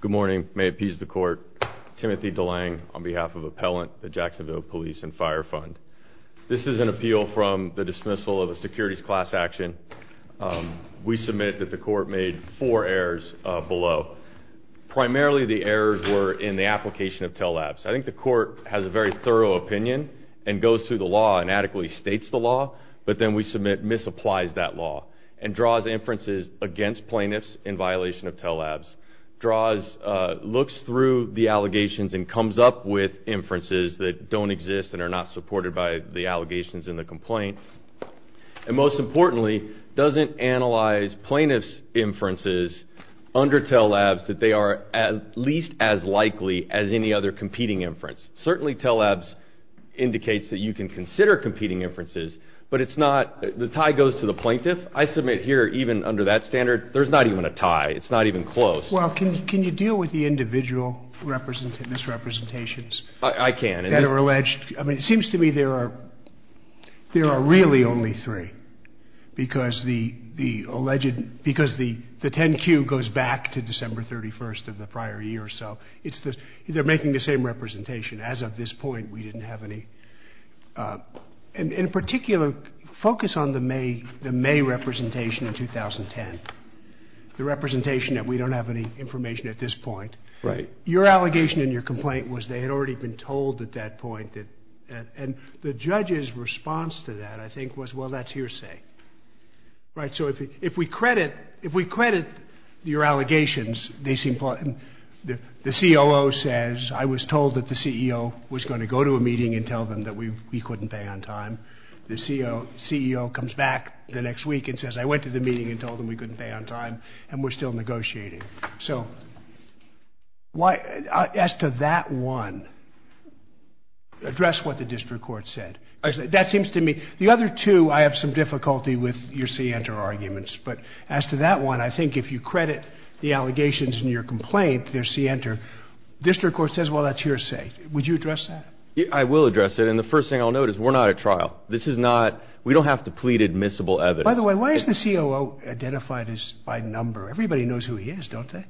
Good morning. May it please the court. Timothy DeLang on behalf of Appellant the Jacksonville Police & Fire Fund. This is an appeal from the dismissal of a securities class action. We submit that the court made four errors below. Primarily the errors were in the application of tell-labs. I think the court has a very thorough opinion and goes through the law and adequately states the law but then we submit misapplies that law and draws inferences against plaintiffs in violation of tell-labs, looks through the allegations and comes up with inferences that don't exist and are not supported by the allegations in the complaint and most importantly doesn't analyze plaintiff's inferences under tell-labs that they are at least as likely as any other competing inference. Certainly tell-labs indicates that you can consider competing inferences but the tie goes to the plaintiff. I submit here even under that standard there's not even a tie, it's not even close. Well can you deal with the individual misrepresentations? I can. That are alleged. I mean it seems to me there are really only three because the alleged, because the 10-Q goes back to December 31st of the prior year so it's the, they're making the same representation. As of this point we didn't have any. In particular focus on the May representation in 2010, the representation that we don't have any information at this point. Your allegation in your complaint was they had already been told at that point and the judge's response to that I think was well that's hearsay. So if we credit your allegations, the COO says I was told that the CEO was going to go to a meeting and tell them that we couldn't pay on time. The CEO comes back the next week and says I went to the meeting and told them we couldn't pay on time and we're still negotiating. So why, as to that one, address what the district court said. That seems to me, the other two I have some difficulty with your C enter arguments but as to that one I think if you credit the allegations in your complaint, their C enter, district court says well that's hearsay. Would you address that? I will address it and the first thing I'll note is we're not at trial. This is not, we don't have to plead admissible evidence. By the way, why is the COO identified by number? Everybody knows who he is, don't they?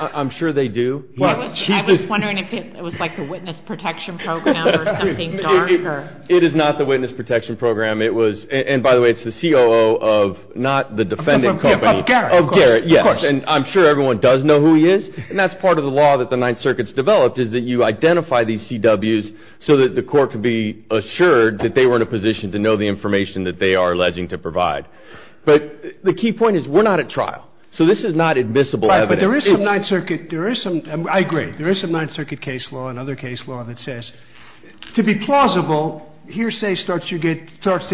I'm sure they do. I was wondering if it was like the witness protection program or something darker. It is not the witness protection program. It was, and by the way, it's the COO of not the defendant company, of Garrett, yes, and I'm sure everyone does know who he is and that's part of the law that the Ninth Circuit's developed is that you identify these CWs so that the court can be assured that they were in a position to know the information that they are alleging to provide. But the key point is we're not at trial so this is not admissible evidence. Right, but there is some Ninth Circuit, I agree, there is some Ninth Circuit case law and other case law that says to be plausible hearsay starts to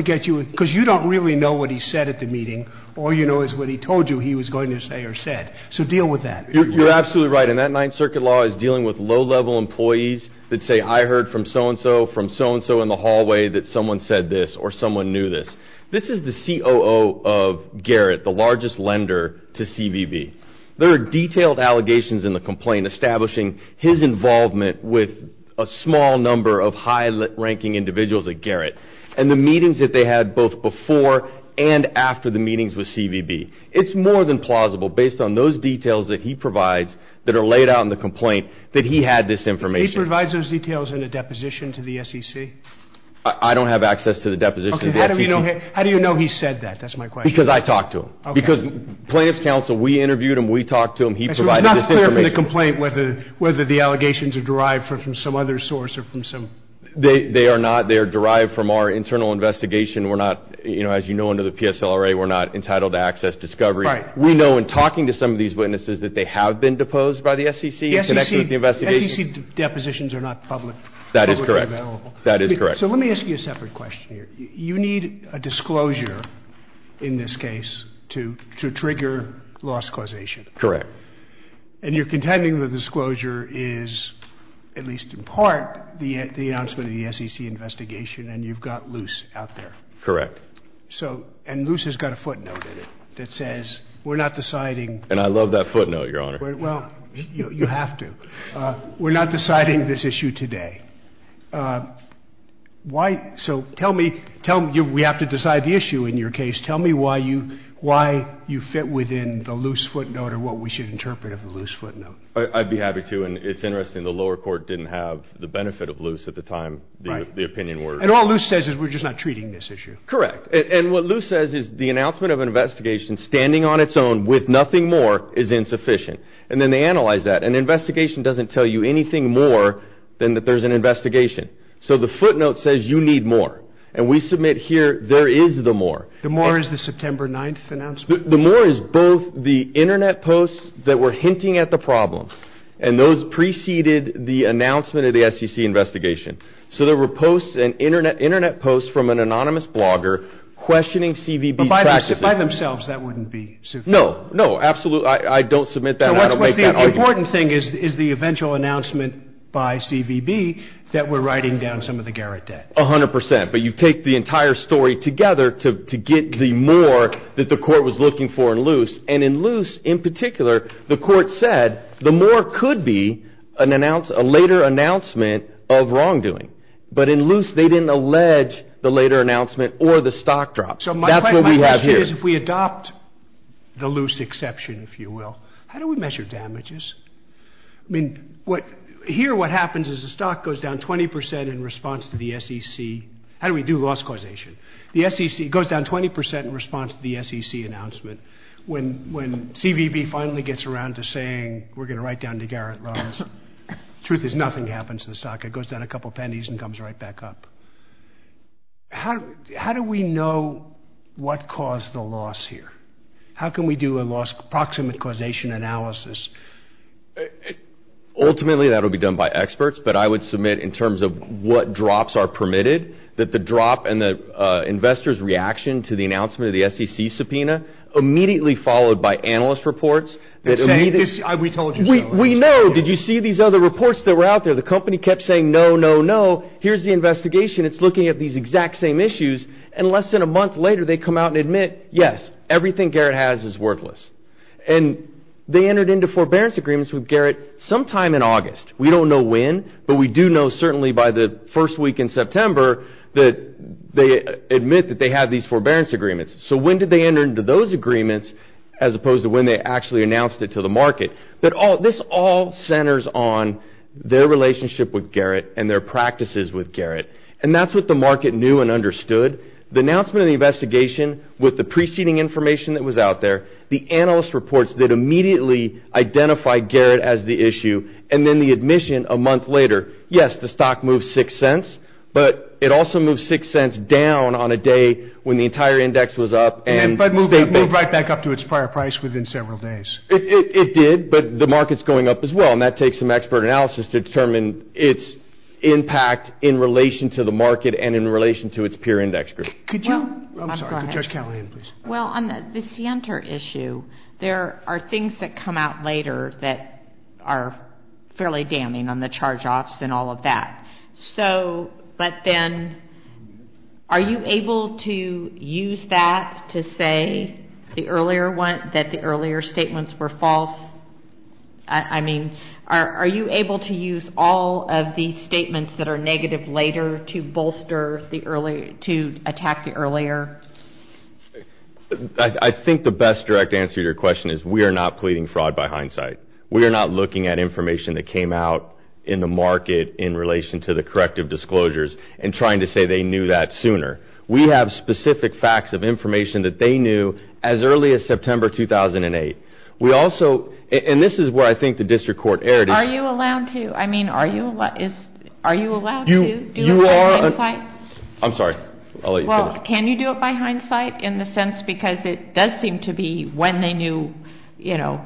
get you, because you don't really know what he said at the meeting, all you know is what he told you he was going to say or said. So deal with that. You're absolutely right and that Ninth Circuit law is dealing with low level employees that say I heard from so and so, from so and so in the hallway that someone said this or someone knew this. This is the COO of Garrett, the largest lender to CVB. There are detailed allegations in the complaint establishing his involvement with a small number of high-ranking individuals at Garrett and the meetings that they had both before and after the meetings with CVB. It's more than plausible based on those details that he provides that are laid out in the complaint that he had this information. He provides those details in a deposition to the SEC? I don't have access to the deposition to the SEC. How do you know he said that? That's my question. Because I talked to him. Because plaintiff's counsel, we interviewed him, we talked to him, he provided this information. So it's not clear from the complaint whether the allegations are derived from some other source or from some... They are not. They are derived from our internal investigation. We're not, you know, as you know under the PSLRA, we're not entitled to access, discovery. Right. We know in talking to some of these witnesses that they have been deposed by the SEC in connection with the investigation. The SEC depositions are not publicly available. That is correct. So let me ask you a separate question here. You need a disclosure in this case to trigger loss causation. Correct. And you're contending the disclosure is, at least in part, the announcement of the SEC investigation and you've got Luce out there. Correct. So, and Luce has got a footnote in it that says, we're not deciding... And I love that footnote, Your Honor. Well, you have to. We're not deciding this issue today. So tell me, we have to decide the issue in your case, tell me why you fit within the Luce footnote or what we should interpret of the Luce footnote. I'd be happy to and it's interesting, the lower court didn't have the benefit of Luce at the time the opinion were... And all Luce says is we're just not treating this issue. Correct. And what Luce says is the announcement of an investigation standing on its own with nothing more is insufficient. And then they analyze that. An investigation doesn't tell you anything more than that there's an investigation. So the footnote says you need more. And we submit here there is the more. The more is the September 9th announcement? The more is both the internet posts that were hinting at the problem and those preceded the announcement of the SEC investigation. So there were posts and internet posts from an anonymous blogger questioning CVB's practices. By themselves that wouldn't be sufficient. No, no, absolutely. I don't submit that and I don't make that argument. So the important thing is the eventual announcement by CVB that we're writing down some of the Garrett debt. A hundred percent, but you take the entire story together to get the more that the court was looking for in Luce. And in Luce, in particular, the court said the more could be a later announcement of wrongdoing. But in Luce they didn't allege the later announcement or the stock drop. So my question is if we adopt the Luce exception, if you will, how do we measure damages? I mean, here what happens is the stock goes down 20 percent in response to the SEC. How do we do loss causation? The SEC goes down 20 percent in response to the SEC announcement. When CVB finally gets around to saying we're going to write down the Garrett loans, truth is nothing happens to the stock. It goes down a couple pennies and comes right back up. How do we know what caused the loss here? How can we do a loss proximate causation analysis? Ultimately that will be done by experts, but I would submit in terms of what drops are permitted, that the drop and the investor's reaction to the announcement of the SEC subpoena immediately followed by analyst reports. We know. Did you see these other reports that were out there? The company kept saying no, no, no. Here's the investigation. It's looking at these exact same issues. And less than a month later they come out and admit yes, everything Garrett has is worthless. And they entered into forbearance agreements with Garrett sometime in August. We don't know when, but we do know certainly by the first week in September that they admit that they have these forbearance agreements. So when did they enter into those agreements as opposed to when they actually announced it to the market? But this all centers on their relationship with Garrett and their practices with Garrett. And that's what the market knew and understood. The announcement of the investigation with the preceding information that was out there, the analyst reports that immediately identified Garrett as the issue, and then the admission a month later. Yes, the stock moved six cents, but it also moved six cents down on a day when the entire index was up. And it moved right back up to its prior price within several days. It did, but the market's going up as well. And that takes some expert analysis to determine its impact in relation to the market and in relation to its peer index group. Could you? I'm sorry. Judge Callahan, please. Well, on the Sienter issue, there are things that come out later that are fairly damning on the charge-offs and all of that. So, but then are you able to use that to say the earlier one, that the earlier statements were false? I mean, are you able to use all of the statements that are negative later to bolster the earlier, to attack the earlier? I think the best direct answer to your question is we are not pleading fraud by hindsight. We are not looking at information that came out in the market in relation to the corrective disclosures and trying to say they knew that sooner. We have specific facts of information that they knew as early as September 2008. We also, and this is where I think the district court erred. Are you allowed to? I mean, are you allowed to do it by hindsight? I'm sorry. I'll let you finish. Well, can you do it by hindsight in the sense because it does seem to be when they knew, you know,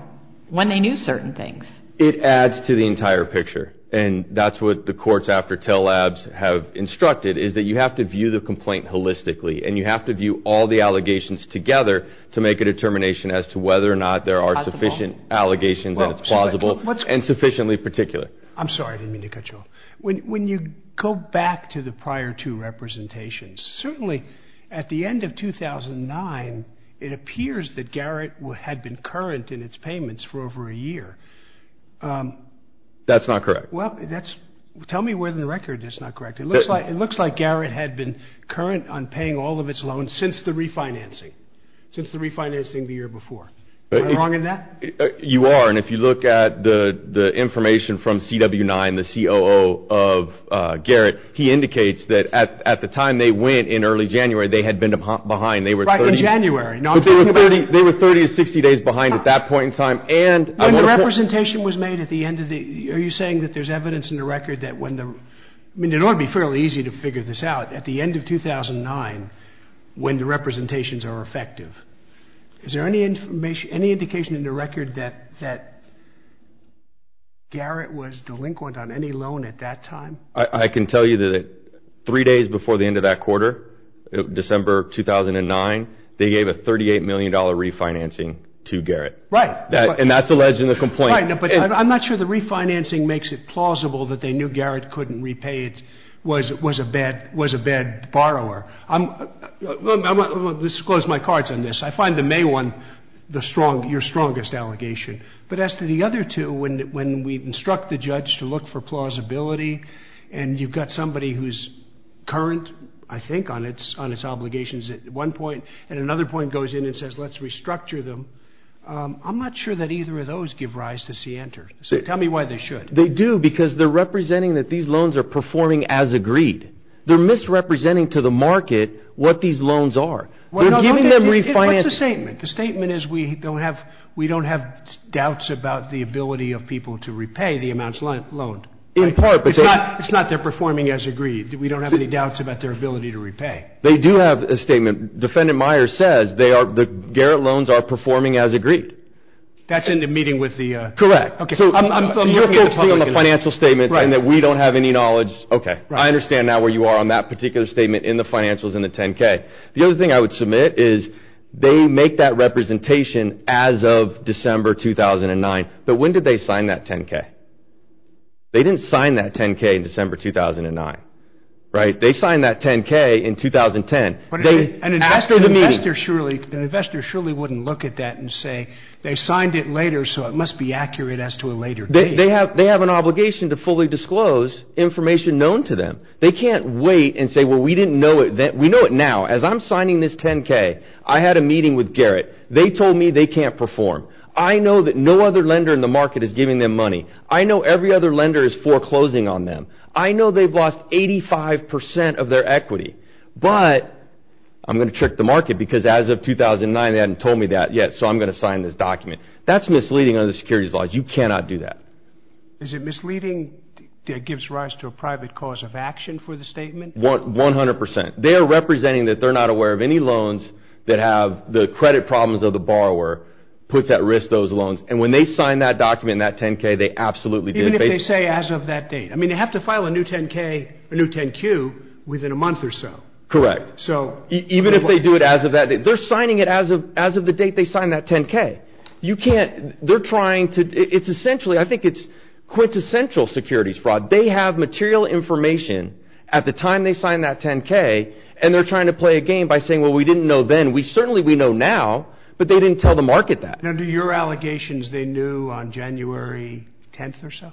when they knew certain things? It adds to the entire picture. And that's what the courts after Tell Labs have instructed is that you have to view the complaint holistically and you have to view all the allegations together to make a determination as to whether or not there are sufficient allegations and it's plausible and sufficiently particular. I'm sorry. I didn't mean to cut you off. When you go back to the prior two representations, certainly at the end of 2009, it appears that Garrett had been current in its payments for over a year. That's not correct. Well, that's, tell me where in the record it's not correct. It looks like Garrett had been current on paying all of its loans since the refinancing, since the refinancing the year before. Am I wrong in that? You are. And if you look at the information from CW9, the COO of Garrett, he indicates that at the time they went in early January, they had been behind. Right, in January. They were 30 to 60 days behind at that point in time. When the representation was made at the end of the year, are you saying that there's evidence in the record that when the, I mean, it ought to be fairly easy to figure this out. At the end of 2009, when the representations are effective, is there any indication in the record that Garrett was delinquent on any loan at that time? I can tell you that three days before the end of that quarter, December 2009, they gave a $38 million refinancing to Garrett. Right. And that's alleged in the complaint. Right. But I'm not sure the refinancing makes it plausible that they knew Garrett couldn't repay it, was a bad borrower. I'm going to disclose my cards on this. I find the May one your strongest allegation. But as to the other two, when we instruct the judge to look for plausibility and you've got somebody who's current, I think, on its obligations at one point, and another point goes in and says let's restructure them, I'm not sure that either of those give rise to scienter. So tell me why they should. They do because they're representing that these loans are performing as agreed. They're misrepresenting to the market what these loans are. They're giving them refinancing. What's the statement? The statement is we don't have doubts about the ability of people to repay the amounts loaned. In part. It's not they're performing as agreed. We don't have any doubts about their ability to repay. They do have a statement. Defendant Myers says the Garrett loans are performing as agreed. That's in the meeting with the… Correct. So you're focusing on the financial statements and that we don't have any knowledge. Okay. I understand now where you are on that particular statement in the financials in the 10-K. The other thing I would submit is they make that representation as of December 2009. But when did they sign that 10-K? They didn't sign that 10-K in December 2009. Right? They signed that 10-K in 2010. But an investor surely wouldn't look at that and say they signed it later so it must be accurate as to a later date. They have an obligation to fully disclose information known to them. They can't wait and say, well, we didn't know it then. We know it now. As I'm signing this 10-K, I had a meeting with Garrett. They told me they can't perform. I know that no other lender in the market is giving them money. I know every other lender is foreclosing on them. I know they've lost 85 percent of their equity. But I'm going to trick the market because as of 2009 they hadn't told me that yet so I'm going to sign this document. That's misleading under the securities laws. You cannot do that. Is it misleading that gives rise to a private cause of action for the statement? 100 percent. They are representing that they're not aware of any loans that have the credit problems of the borrower puts at risk those loans. And when they sign that document in that 10-K, they absolutely did face it. Even if they say as of that date. I mean, they have to file a new 10-K, a new 10-Q within a month or so. Correct. Even if they do it as of that date. They're signing it as of the date they signed that 10-K. You can't. They're trying to. It's essentially, I think it's quintessential securities fraud. They have material information at the time they signed that 10-K and they're trying to play a game by saying, well, we didn't know then. Certainly we know now, but they didn't tell the market that. Now, do your allegations they knew on January 10th or so?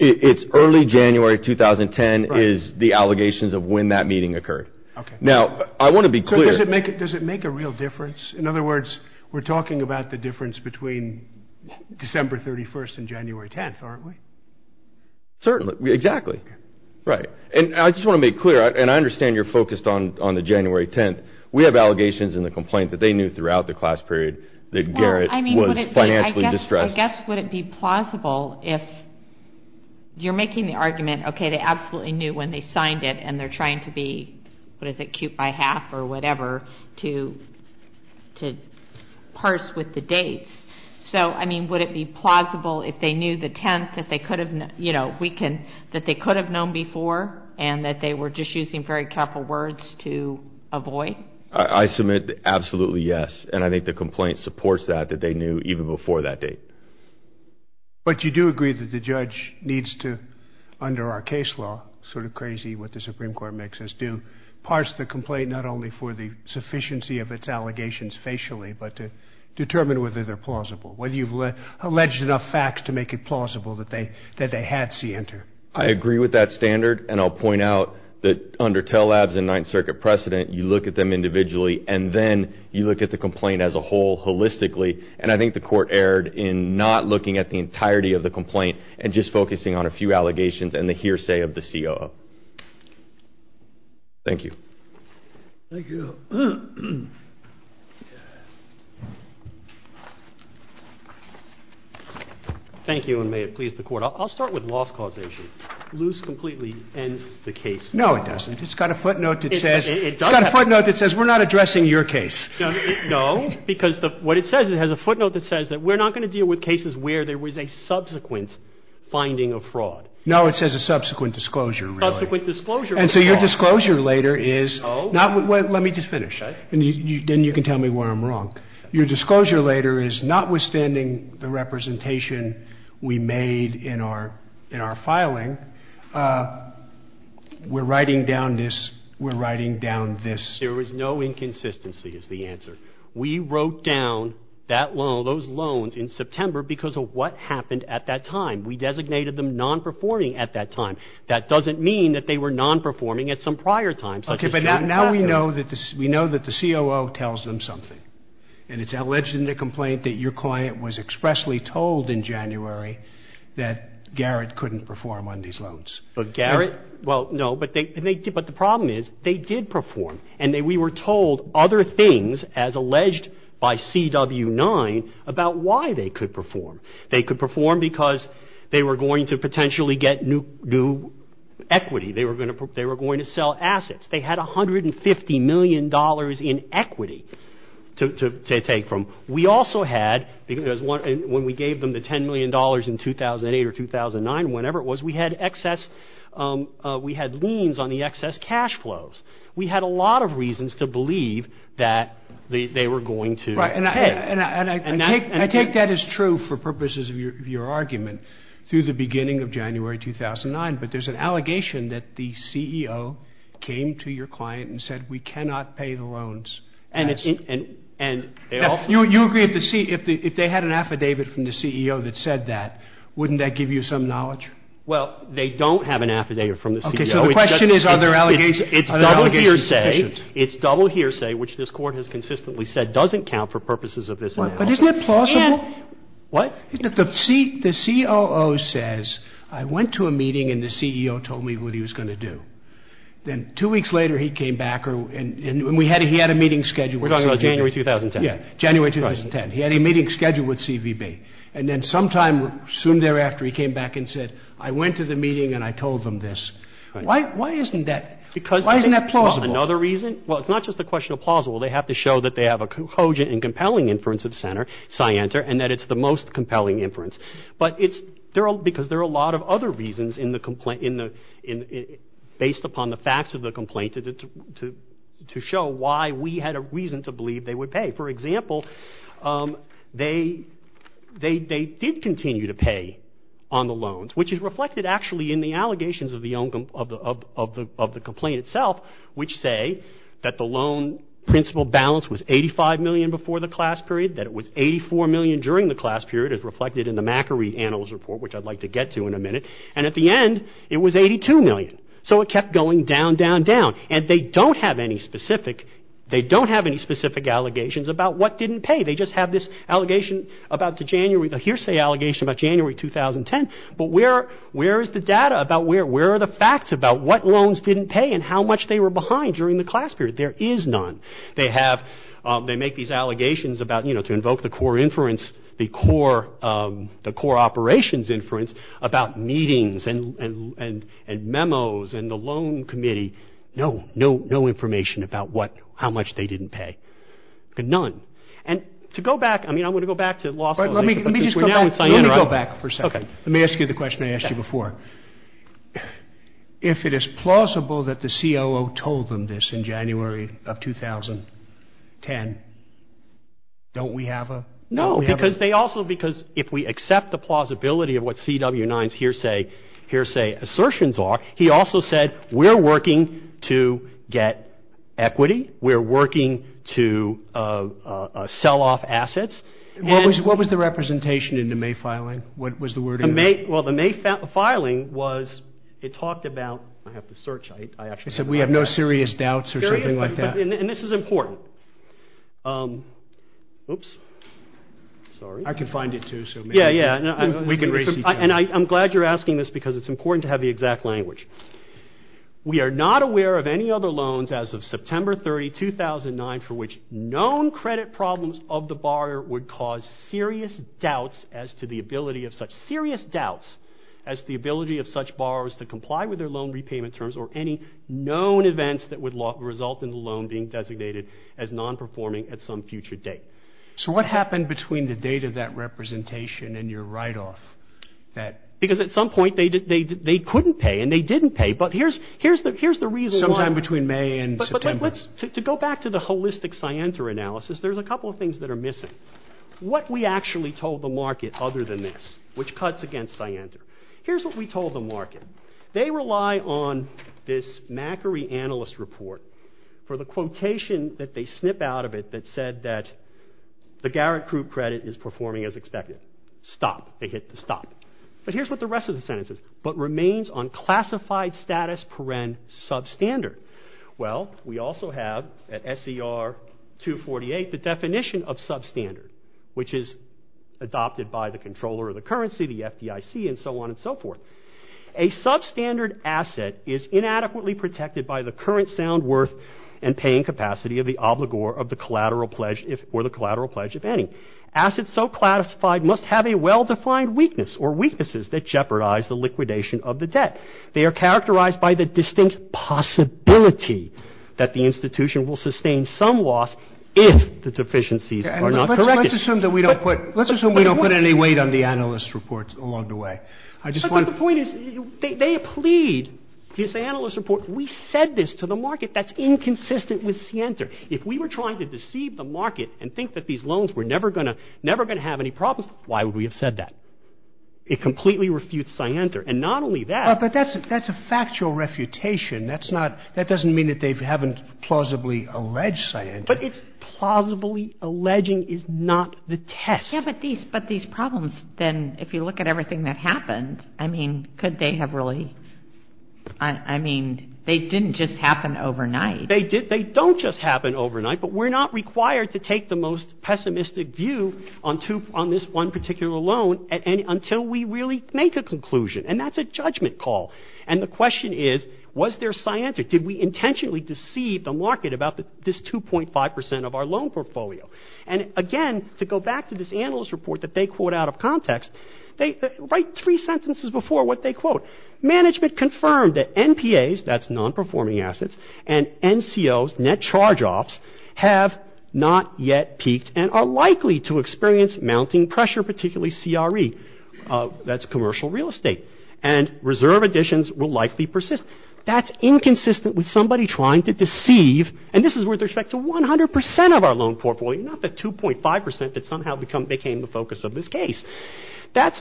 It's early January 2010 is the allegations of when that meeting occurred. Now, I want to be clear. Does it make a real difference? In other words, we're talking about the difference between December 31st and January 10th, aren't we? Certainly. Exactly. Right. And I just want to make clear, and I understand you're focused on the January 10th. We have allegations in the complaint that they knew throughout the class period that Garrett was financially distressed. I guess would it be plausible if you're making the argument, okay, they absolutely knew when they signed it, and they're trying to be, what is it, cute by half or whatever to parse with the dates. So, I mean, would it be plausible if they knew the 10th that they could have known before and that they were just using very careful words to avoid? I submit absolutely yes, and I think the complaint supports that, that they knew even before that date. But you do agree that the judge needs to, under our case law, sort of crazy what the Supreme Court makes us do, parse the complaint not only for the sufficiency of its allegations facially, but to determine whether they're plausible, whether you've alleged enough facts to make it plausible that they had C enter. I agree with that standard, and I'll point out that under Tell Labs and Ninth Circuit precedent, you look at them individually, and then you look at the complaint as a whole holistically. And I think the court erred in not looking at the entirety of the complaint and just focusing on a few allegations and the hearsay of the COO. Thank you. Thank you. Thank you, and may it please the court. I'll start with loss causation. Loose completely ends the case. No, it doesn't. It's got a footnote that says we're not addressing your case. No, because what it says, it has a footnote that says that we're not going to deal with cases where there was a subsequent finding of fraud. No, it says a subsequent disclosure, really. Subsequent disclosure is wrong. And so your disclosure later is not – let me just finish. Okay. Then you can tell me where I'm wrong. Your disclosure later is notwithstanding the representation we made in our filing, we're writing down this, we're writing down this. There was no inconsistency is the answer. We wrote down that loan, those loans in September because of what happened at that time. We designated them non-performing at that time. That doesn't mean that they were non-performing at some prior time. Okay, but now we know that the COO tells them something, and it's alleged in the complaint that your client was expressly told in January that Garrett couldn't perform on these loans. But Garrett – well, no, but the problem is they did perform, and we were told other things as alleged by CW9 about why they could perform. They could perform because they were going to potentially get new equity. They were going to sell assets. They had $150 million in equity to take from. We also had – because when we gave them the $10 million in 2008 or 2009, whenever it was, we had excess – we had liens on the excess cash flows. We had a lot of reasons to believe that they were going to hit. And I take that as true for purposes of your argument through the beginning of January 2009, but there's an allegation that the CEO came to your client and said we cannot pay the loans. And it's – and they also – You agree at the – if they had an affidavit from the CEO that said that, wouldn't that give you some knowledge? Well, they don't have an affidavit from the CEO. Okay, so the question is are their allegations sufficient? It's double hearsay, which this Court has consistently said doesn't count for purposes of this analysis. But isn't it plausible? What? The COO says I went to a meeting and the CEO told me what he was going to do. Then two weeks later he came back and we had – he had a meeting scheduled. We're talking about January 2010. Yeah, January 2010. He had a meeting scheduled with CVB. And then sometime soon thereafter he came back and said I went to the meeting and I told them this. Why isn't that – why isn't that plausible? Another reason – well, it's not just a question of plausible. They have to show that they have a cogent and compelling inference of Center, Scienter, and that it's the most compelling inference. But it's – because there are a lot of other reasons in the – based upon the facts of the complaint to show why we had a reason to believe they would pay. For example, they did continue to pay on the loans, which is reflected actually in the allegations of the complaint itself, which say that the loan principal balance was $85 million before the class period, that it was $84 million during the class period, as reflected in the McAree Analyst Report, which I'd like to get to in a minute. And at the end it was $82 million. So it kept going down, down, down. And they don't have any specific – they don't have any specific allegations about what didn't pay. They just have this allegation about the January – the hearsay allegation about January 2010. But where is the data about – where are the facts about what loans didn't pay and how much they were behind during the class period? There is none. They have – they make these allegations about, you know, to invoke the core inference, the core operations inference about meetings and memos and the loan committee. No, no information about what – how much they didn't pay. None. And to go back – I mean, I'm going to go back to law school. Let me go back for a second. Let me ask you the question I asked you before. If it is plausible that the COO told them this in January of 2010, don't we have a – No, because they also – because if we accept the plausibility of what CW9's hearsay assertions are, he also said we're working to get equity. We're working to sell off assets. What was the representation in the May filing? What was the wording? Well, the May filing was – it talked about – I have to search. It said we have no serious doubts or something like that. And this is important. Oops. Sorry. I can find it too. Yeah, yeah. And I'm glad you're asking this because it's important to have the exact language. We are not aware of any other loans as of September 30, 2009, for which known credit problems of the borrower would cause serious doubts as to the ability of such – serious doubts as to the ability of such borrowers to comply with their loan repayment terms or any known events that would result in the loan being designated as non-performing at some future date. So what happened between the date of that representation and your write-off? Because at some point they couldn't pay and they didn't pay. But here's the reason why. Sometime between May and September. To go back to the holistic Sienta analysis, there's a couple of things that are missing. What we actually told the market other than this, which cuts against Sienta. Here's what we told the market. They rely on this Macquarie Analyst Report for the quotation that they snip out of it that said that the Garrett Group credit is performing as expected. Stop. They hit the stop. But here's what the rest of the sentence says. But remains on classified status paren substandard. Well, we also have at SER 248 the definition of substandard, which is adopted by the controller of the currency, the FDIC, and so on and so forth. A substandard asset is inadequately protected by the current sound worth and paying capacity of the obligor of the collateral pledge or the collateral pledge of any. Assets so classified must have a well-defined weakness or weaknesses that jeopardize the liquidation of the debt. They are characterized by the distinct possibility that the institution will sustain some loss if the deficiencies are not corrected. Let's assume that we don't put any weight on the analyst reports along the way. But the point is they plead this analyst report. We said this to the market. That's inconsistent with Sienta. If we were trying to deceive the market and think that these loans were never going to have any problems, why would we have said that? It completely refutes Sienta. And not only that. But that's a factual refutation. That doesn't mean that they haven't plausibly alleged Sienta. But it's plausibly alleging is not the test. Yeah, but these problems, then, if you look at everything that happened, I mean, could they have really — I mean, they didn't just happen overnight. They don't just happen overnight, but we're not required to take the most pessimistic view on this one particular loan until we really make a conclusion. And that's a judgment call. And the question is, was there Sienta? Did we intentionally deceive the market about this 2.5 percent of our loan portfolio? And, again, to go back to this analyst report that they quote out of context, write three sentences before what they quote. Management confirmed that NPAs, that's non-performing assets, and NCOs, net charge-offs, have not yet peaked and are likely to experience mounting pressure, particularly CRE. That's commercial real estate. And reserve additions will likely persist. That's inconsistent with somebody trying to deceive, and this is with respect to 100 percent of our loan portfolio, not the 2.5 percent that somehow became the focus of this case. That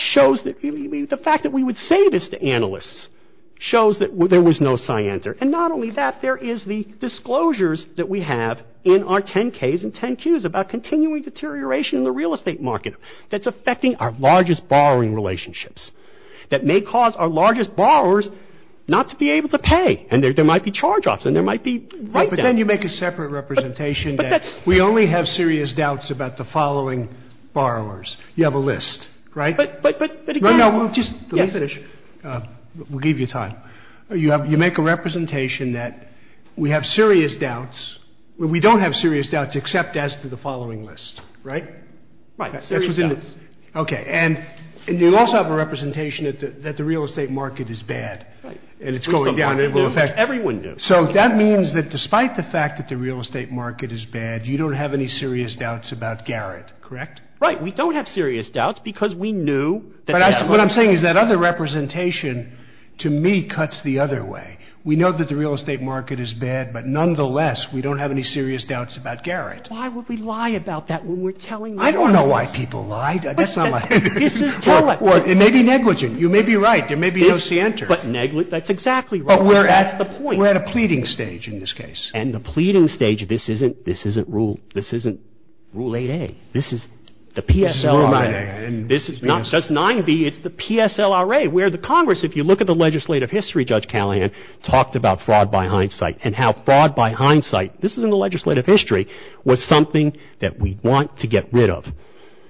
shows that the fact that we would say this to analysts shows that there was no Sienta. And not only that, there is the disclosures that we have in our 10-Ks and 10-Qs about continuing deterioration in the real estate market that's affecting our largest borrowing relationships, that may cause our largest borrowers not to be able to pay. And there might be charge-offs, and there might be write-downs. But then you make a separate representation that we only have serious doubts about the following borrowers. You have a list, right? No, no, just let me finish. We'll give you time. You make a representation that we have serious doubts, but we don't have serious doubts except as to the following list, right? Right, serious doubts. Okay. And you also have a representation that the real estate market is bad. Right. And it's going down. Everyone knew. So that means that despite the fact that the real estate market is bad, you don't have any serious doubts about Garrett, correct? Right. We don't have serious doubts because we knew that they had money. What I'm saying is that other representation to me cuts the other way. We know that the real estate market is bad, but nonetheless we don't have any serious doubts about Garrett. Why would we lie about that when we're telling the truth? I don't know why people lie. This is telepathy. It may be negligent. You may be right. There may be no cienter. That's exactly right. That's the point. We're at a pleading stage in this case. And the pleading stage, this isn't Rule 8A. This is the PSL. This is not just 9B. It's the PSLRA where the Congress, if you look at the legislative history, Judge Callahan, talked about fraud by hindsight and how fraud by hindsight, this is in the legislative history, was something that we want to get rid of.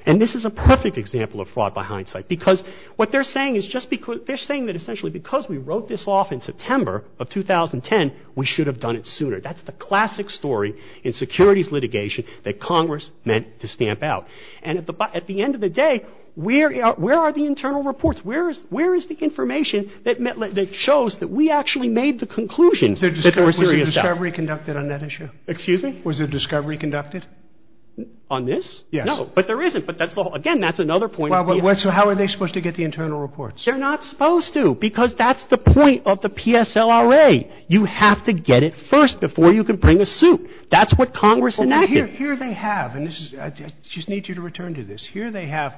And this is a perfect example of fraud by hindsight because what they're saying is just because they're saying that essentially because we wrote this off in September of 2010, we should have done it sooner. That's the classic story in securities litigation that Congress meant to stamp out. And at the end of the day, where are the internal reports? Where is the information that shows that we actually made the conclusion that there were serious doubts? Was a discovery conducted on that issue? Excuse me? Was a discovery conducted? On this? Yes. No, but there isn't. But, again, that's another point. So how are they supposed to get the internal reports? They're not supposed to because that's the point of the PSLRA. You have to get it first before you can bring a suit. That's what Congress enacted. Here they have, and I just need you to return to this. Here they have,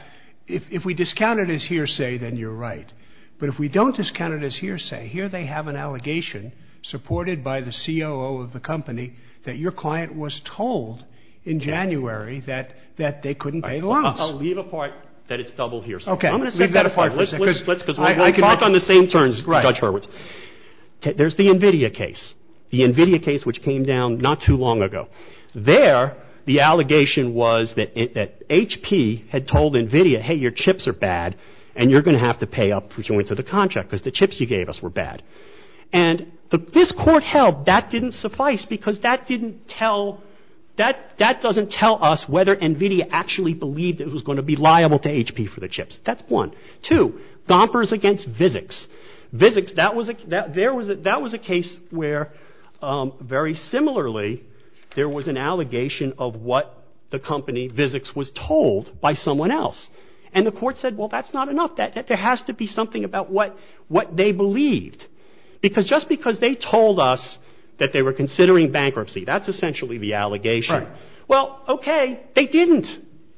if we discount it as hearsay, then you're right. But if we don't discount it as hearsay, here they have an allegation supported by the COO of the company that your client was told in January that they couldn't pay the loans. I'll leave a part that it's double hearsay. Okay. I'm going to set that apart. I can work on the same terms, Judge Hurwitz. There's the NVIDIA case, the NVIDIA case which came down not too long ago. There, the allegation was that HP had told NVIDIA, hey, your chips are bad and you're going to have to pay up for joints of the contract because the chips you gave us were bad. And this court held that didn't suffice because that didn't tell, that doesn't tell us whether NVIDIA actually believed it was going to be liable to HP for the chips. That's one. Two, gompers against Vizics. That was a case where, very similarly, there was an allegation of what the company, Vizics, was told by someone else. And the court said, well, that's not enough. There has to be something about what they believed. Because just because they told us that they were considering bankruptcy, that's essentially the allegation. Well, okay, they didn't.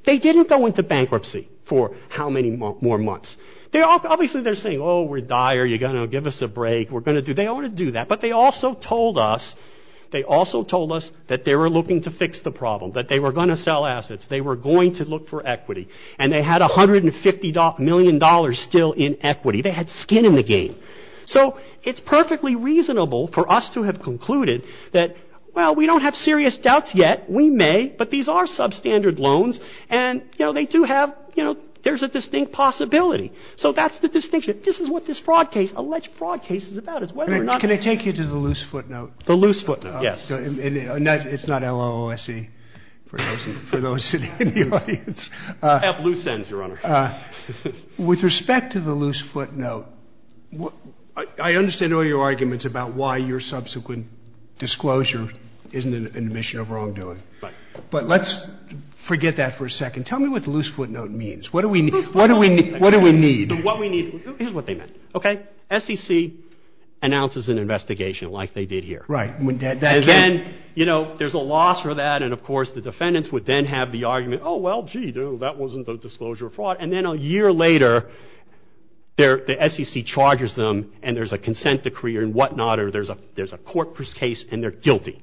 They didn't go into bankruptcy for how many more months. Obviously, they're saying, oh, we're dire. You're going to give us a break. We're going to do, they ought to do that. But they also told us, they also told us that they were looking to fix the problem, that they were going to sell assets. They were going to look for equity. And they had $150 million still in equity. They had skin in the game. So it's perfectly reasonable for us to have concluded that, well, we don't have serious doubts yet. We may, but these are substandard loans. And, you know, they do have, you know, there's a distinct possibility. So that's the distinction. This is what this fraud case, alleged fraud case, is about, is whether or not. Can I take you to the loose footnote? The loose footnote, yes. It's not L-O-O-S-E for those in the audience. I have loose ends, Your Honor. With respect to the loose footnote, I understand all your arguments about why your subsequent disclosure isn't an admission of wrongdoing. Right. But let's forget that for a second. Tell me what the loose footnote means. What do we need? Here's what they meant. Okay? SEC announces an investigation like they did here. Right. And again, you know, there's a loss for that. And, of course, the defendants would then have the argument, oh, well, gee, that wasn't a disclosure of fraud. And then a year later, the SEC charges them and there's a consent decree and whatnot, or there's a court case and they're guilty.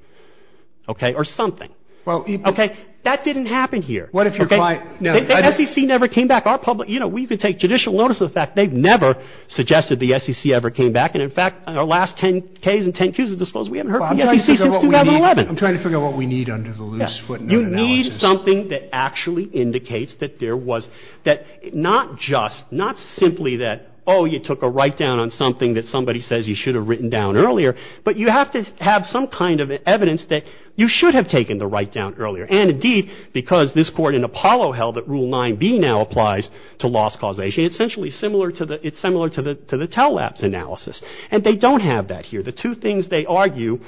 Okay? Or something. Okay? That didn't happen here. What if you're quiet? No. The SEC never came back. Our public, you know, we could take judicial notice of the fact they've never suggested the SEC ever came back. And, in fact, in our last 10-Ks and 10-Qs of disclosure, we haven't heard from the SEC since 2011. I'm trying to figure out what we need under the loose footnote analysis. You need something that actually indicates that there was, that not just, not simply that, oh, you took a write-down on something that somebody says you should have written down earlier, but you have to have some kind of evidence that you should have taken the write-down earlier. And, indeed, because this court in Apollo held that Rule 9B now applies to loss causation, it's essentially similar to the, it's similar to the, to the tell-lapse analysis. And they don't have that here. The two things they argue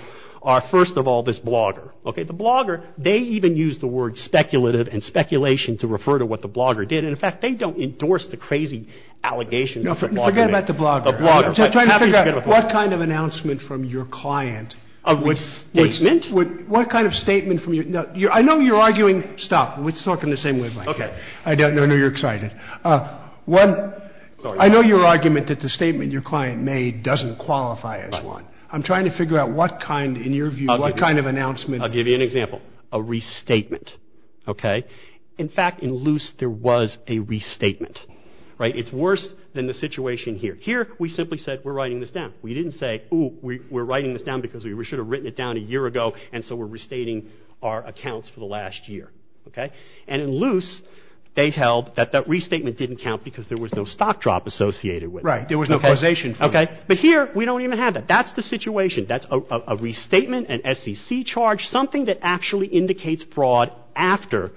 are, first of all, this blogger. Okay? The blogger, they even use the word speculative and speculation to refer to what the blogger did. And, in fact, they don't endorse the crazy allegations that the blogger made. Forget about the blogger. The blogger. I'm trying to figure out what kind of announcement from your client would What kind of statement from your, I know you're arguing, stop. Let's talk in the same way. Okay. I don't know, I know you're excited. What, I know your argument that the statement your client made doesn't qualify as one. I'm trying to figure out what kind, in your view, what kind of announcement. I'll give you an example. A restatement. Okay? In fact, in Luce, there was a restatement. Right? It's worse than the situation here. Here, we simply said, we're writing this down. We didn't say, ooh, we're writing this down because we should have written it down a year ago. And so we're restating our accounts for the last year. Okay? And in Luce, they held that that restatement didn't count because there was no stock drop associated with it. Right. There was no causation from it. Okay? But here, we don't even have that. That's the situation. That's a restatement, an SEC charge, something that actually indicates fraud after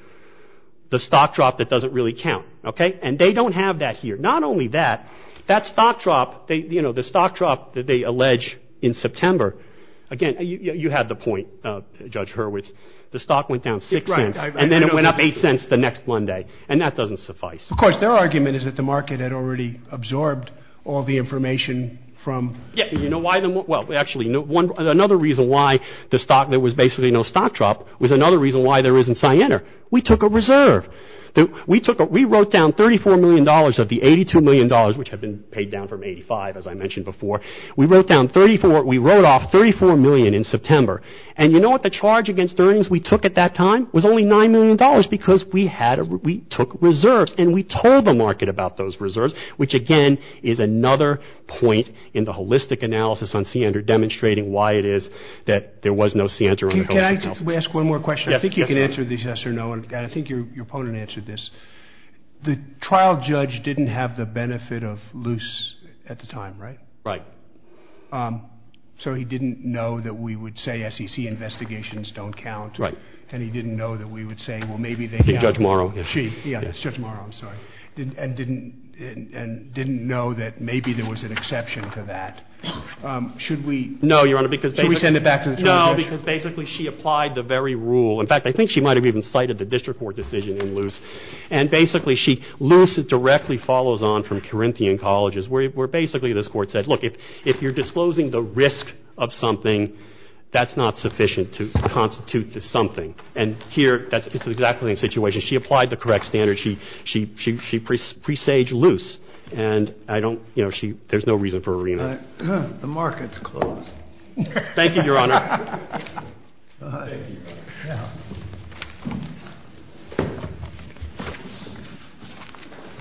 the stock drop that doesn't really count. Okay? And they don't have that here. Not only that, that stock drop, you know, the stock drop that they allege in September. Again, you had the point, Judge Hurwitz. The stock went down six cents. And then it went up eight cents the next Monday. And that doesn't suffice. Of course, their argument is that the market had already absorbed all the information from. Yeah. You know why? Well, actually, another reason why the stock, there was basically no stock drop, was another reason why there isn't cyanide. We took a reserve. We wrote down $34 million of the $82 million, which had been paid down from $85, as I mentioned before. We wrote off $34 million in September. And you know what the charge against earnings we took at that time? It was only $9 million because we took reserves. And we told the market about those reserves, which, again, is another point in the holistic analysis on Ciander, demonstrating why it is that there was no Ciander. Can I just ask one more question? Yes. I think you can answer this yes or no. I think your opponent answered this. The trial judge didn't have the benefit of loose at the time, right? Right. So he didn't know that we would say SEC investigations don't count. Right. And he didn't know that we would say, well, maybe they do. Judge Morrow. Yeah, Judge Morrow, I'm sorry. And didn't know that maybe there was an exception to that. Should we send it back to the trial judge? No, because basically she applied the very rule. In fact, I think she might have even cited the district court decision in loose. And basically, loose directly follows on from Corinthian Colleges, where basically this court said, look, if you're disclosing the risk of something, that's not sufficient to constitute the something. And here, it's exactly the same situation. She applied the correct standard. She presaged loose. And there's no reason for a remand. The market's closed. Thank you, Your Honor. Thank you, Your Honor.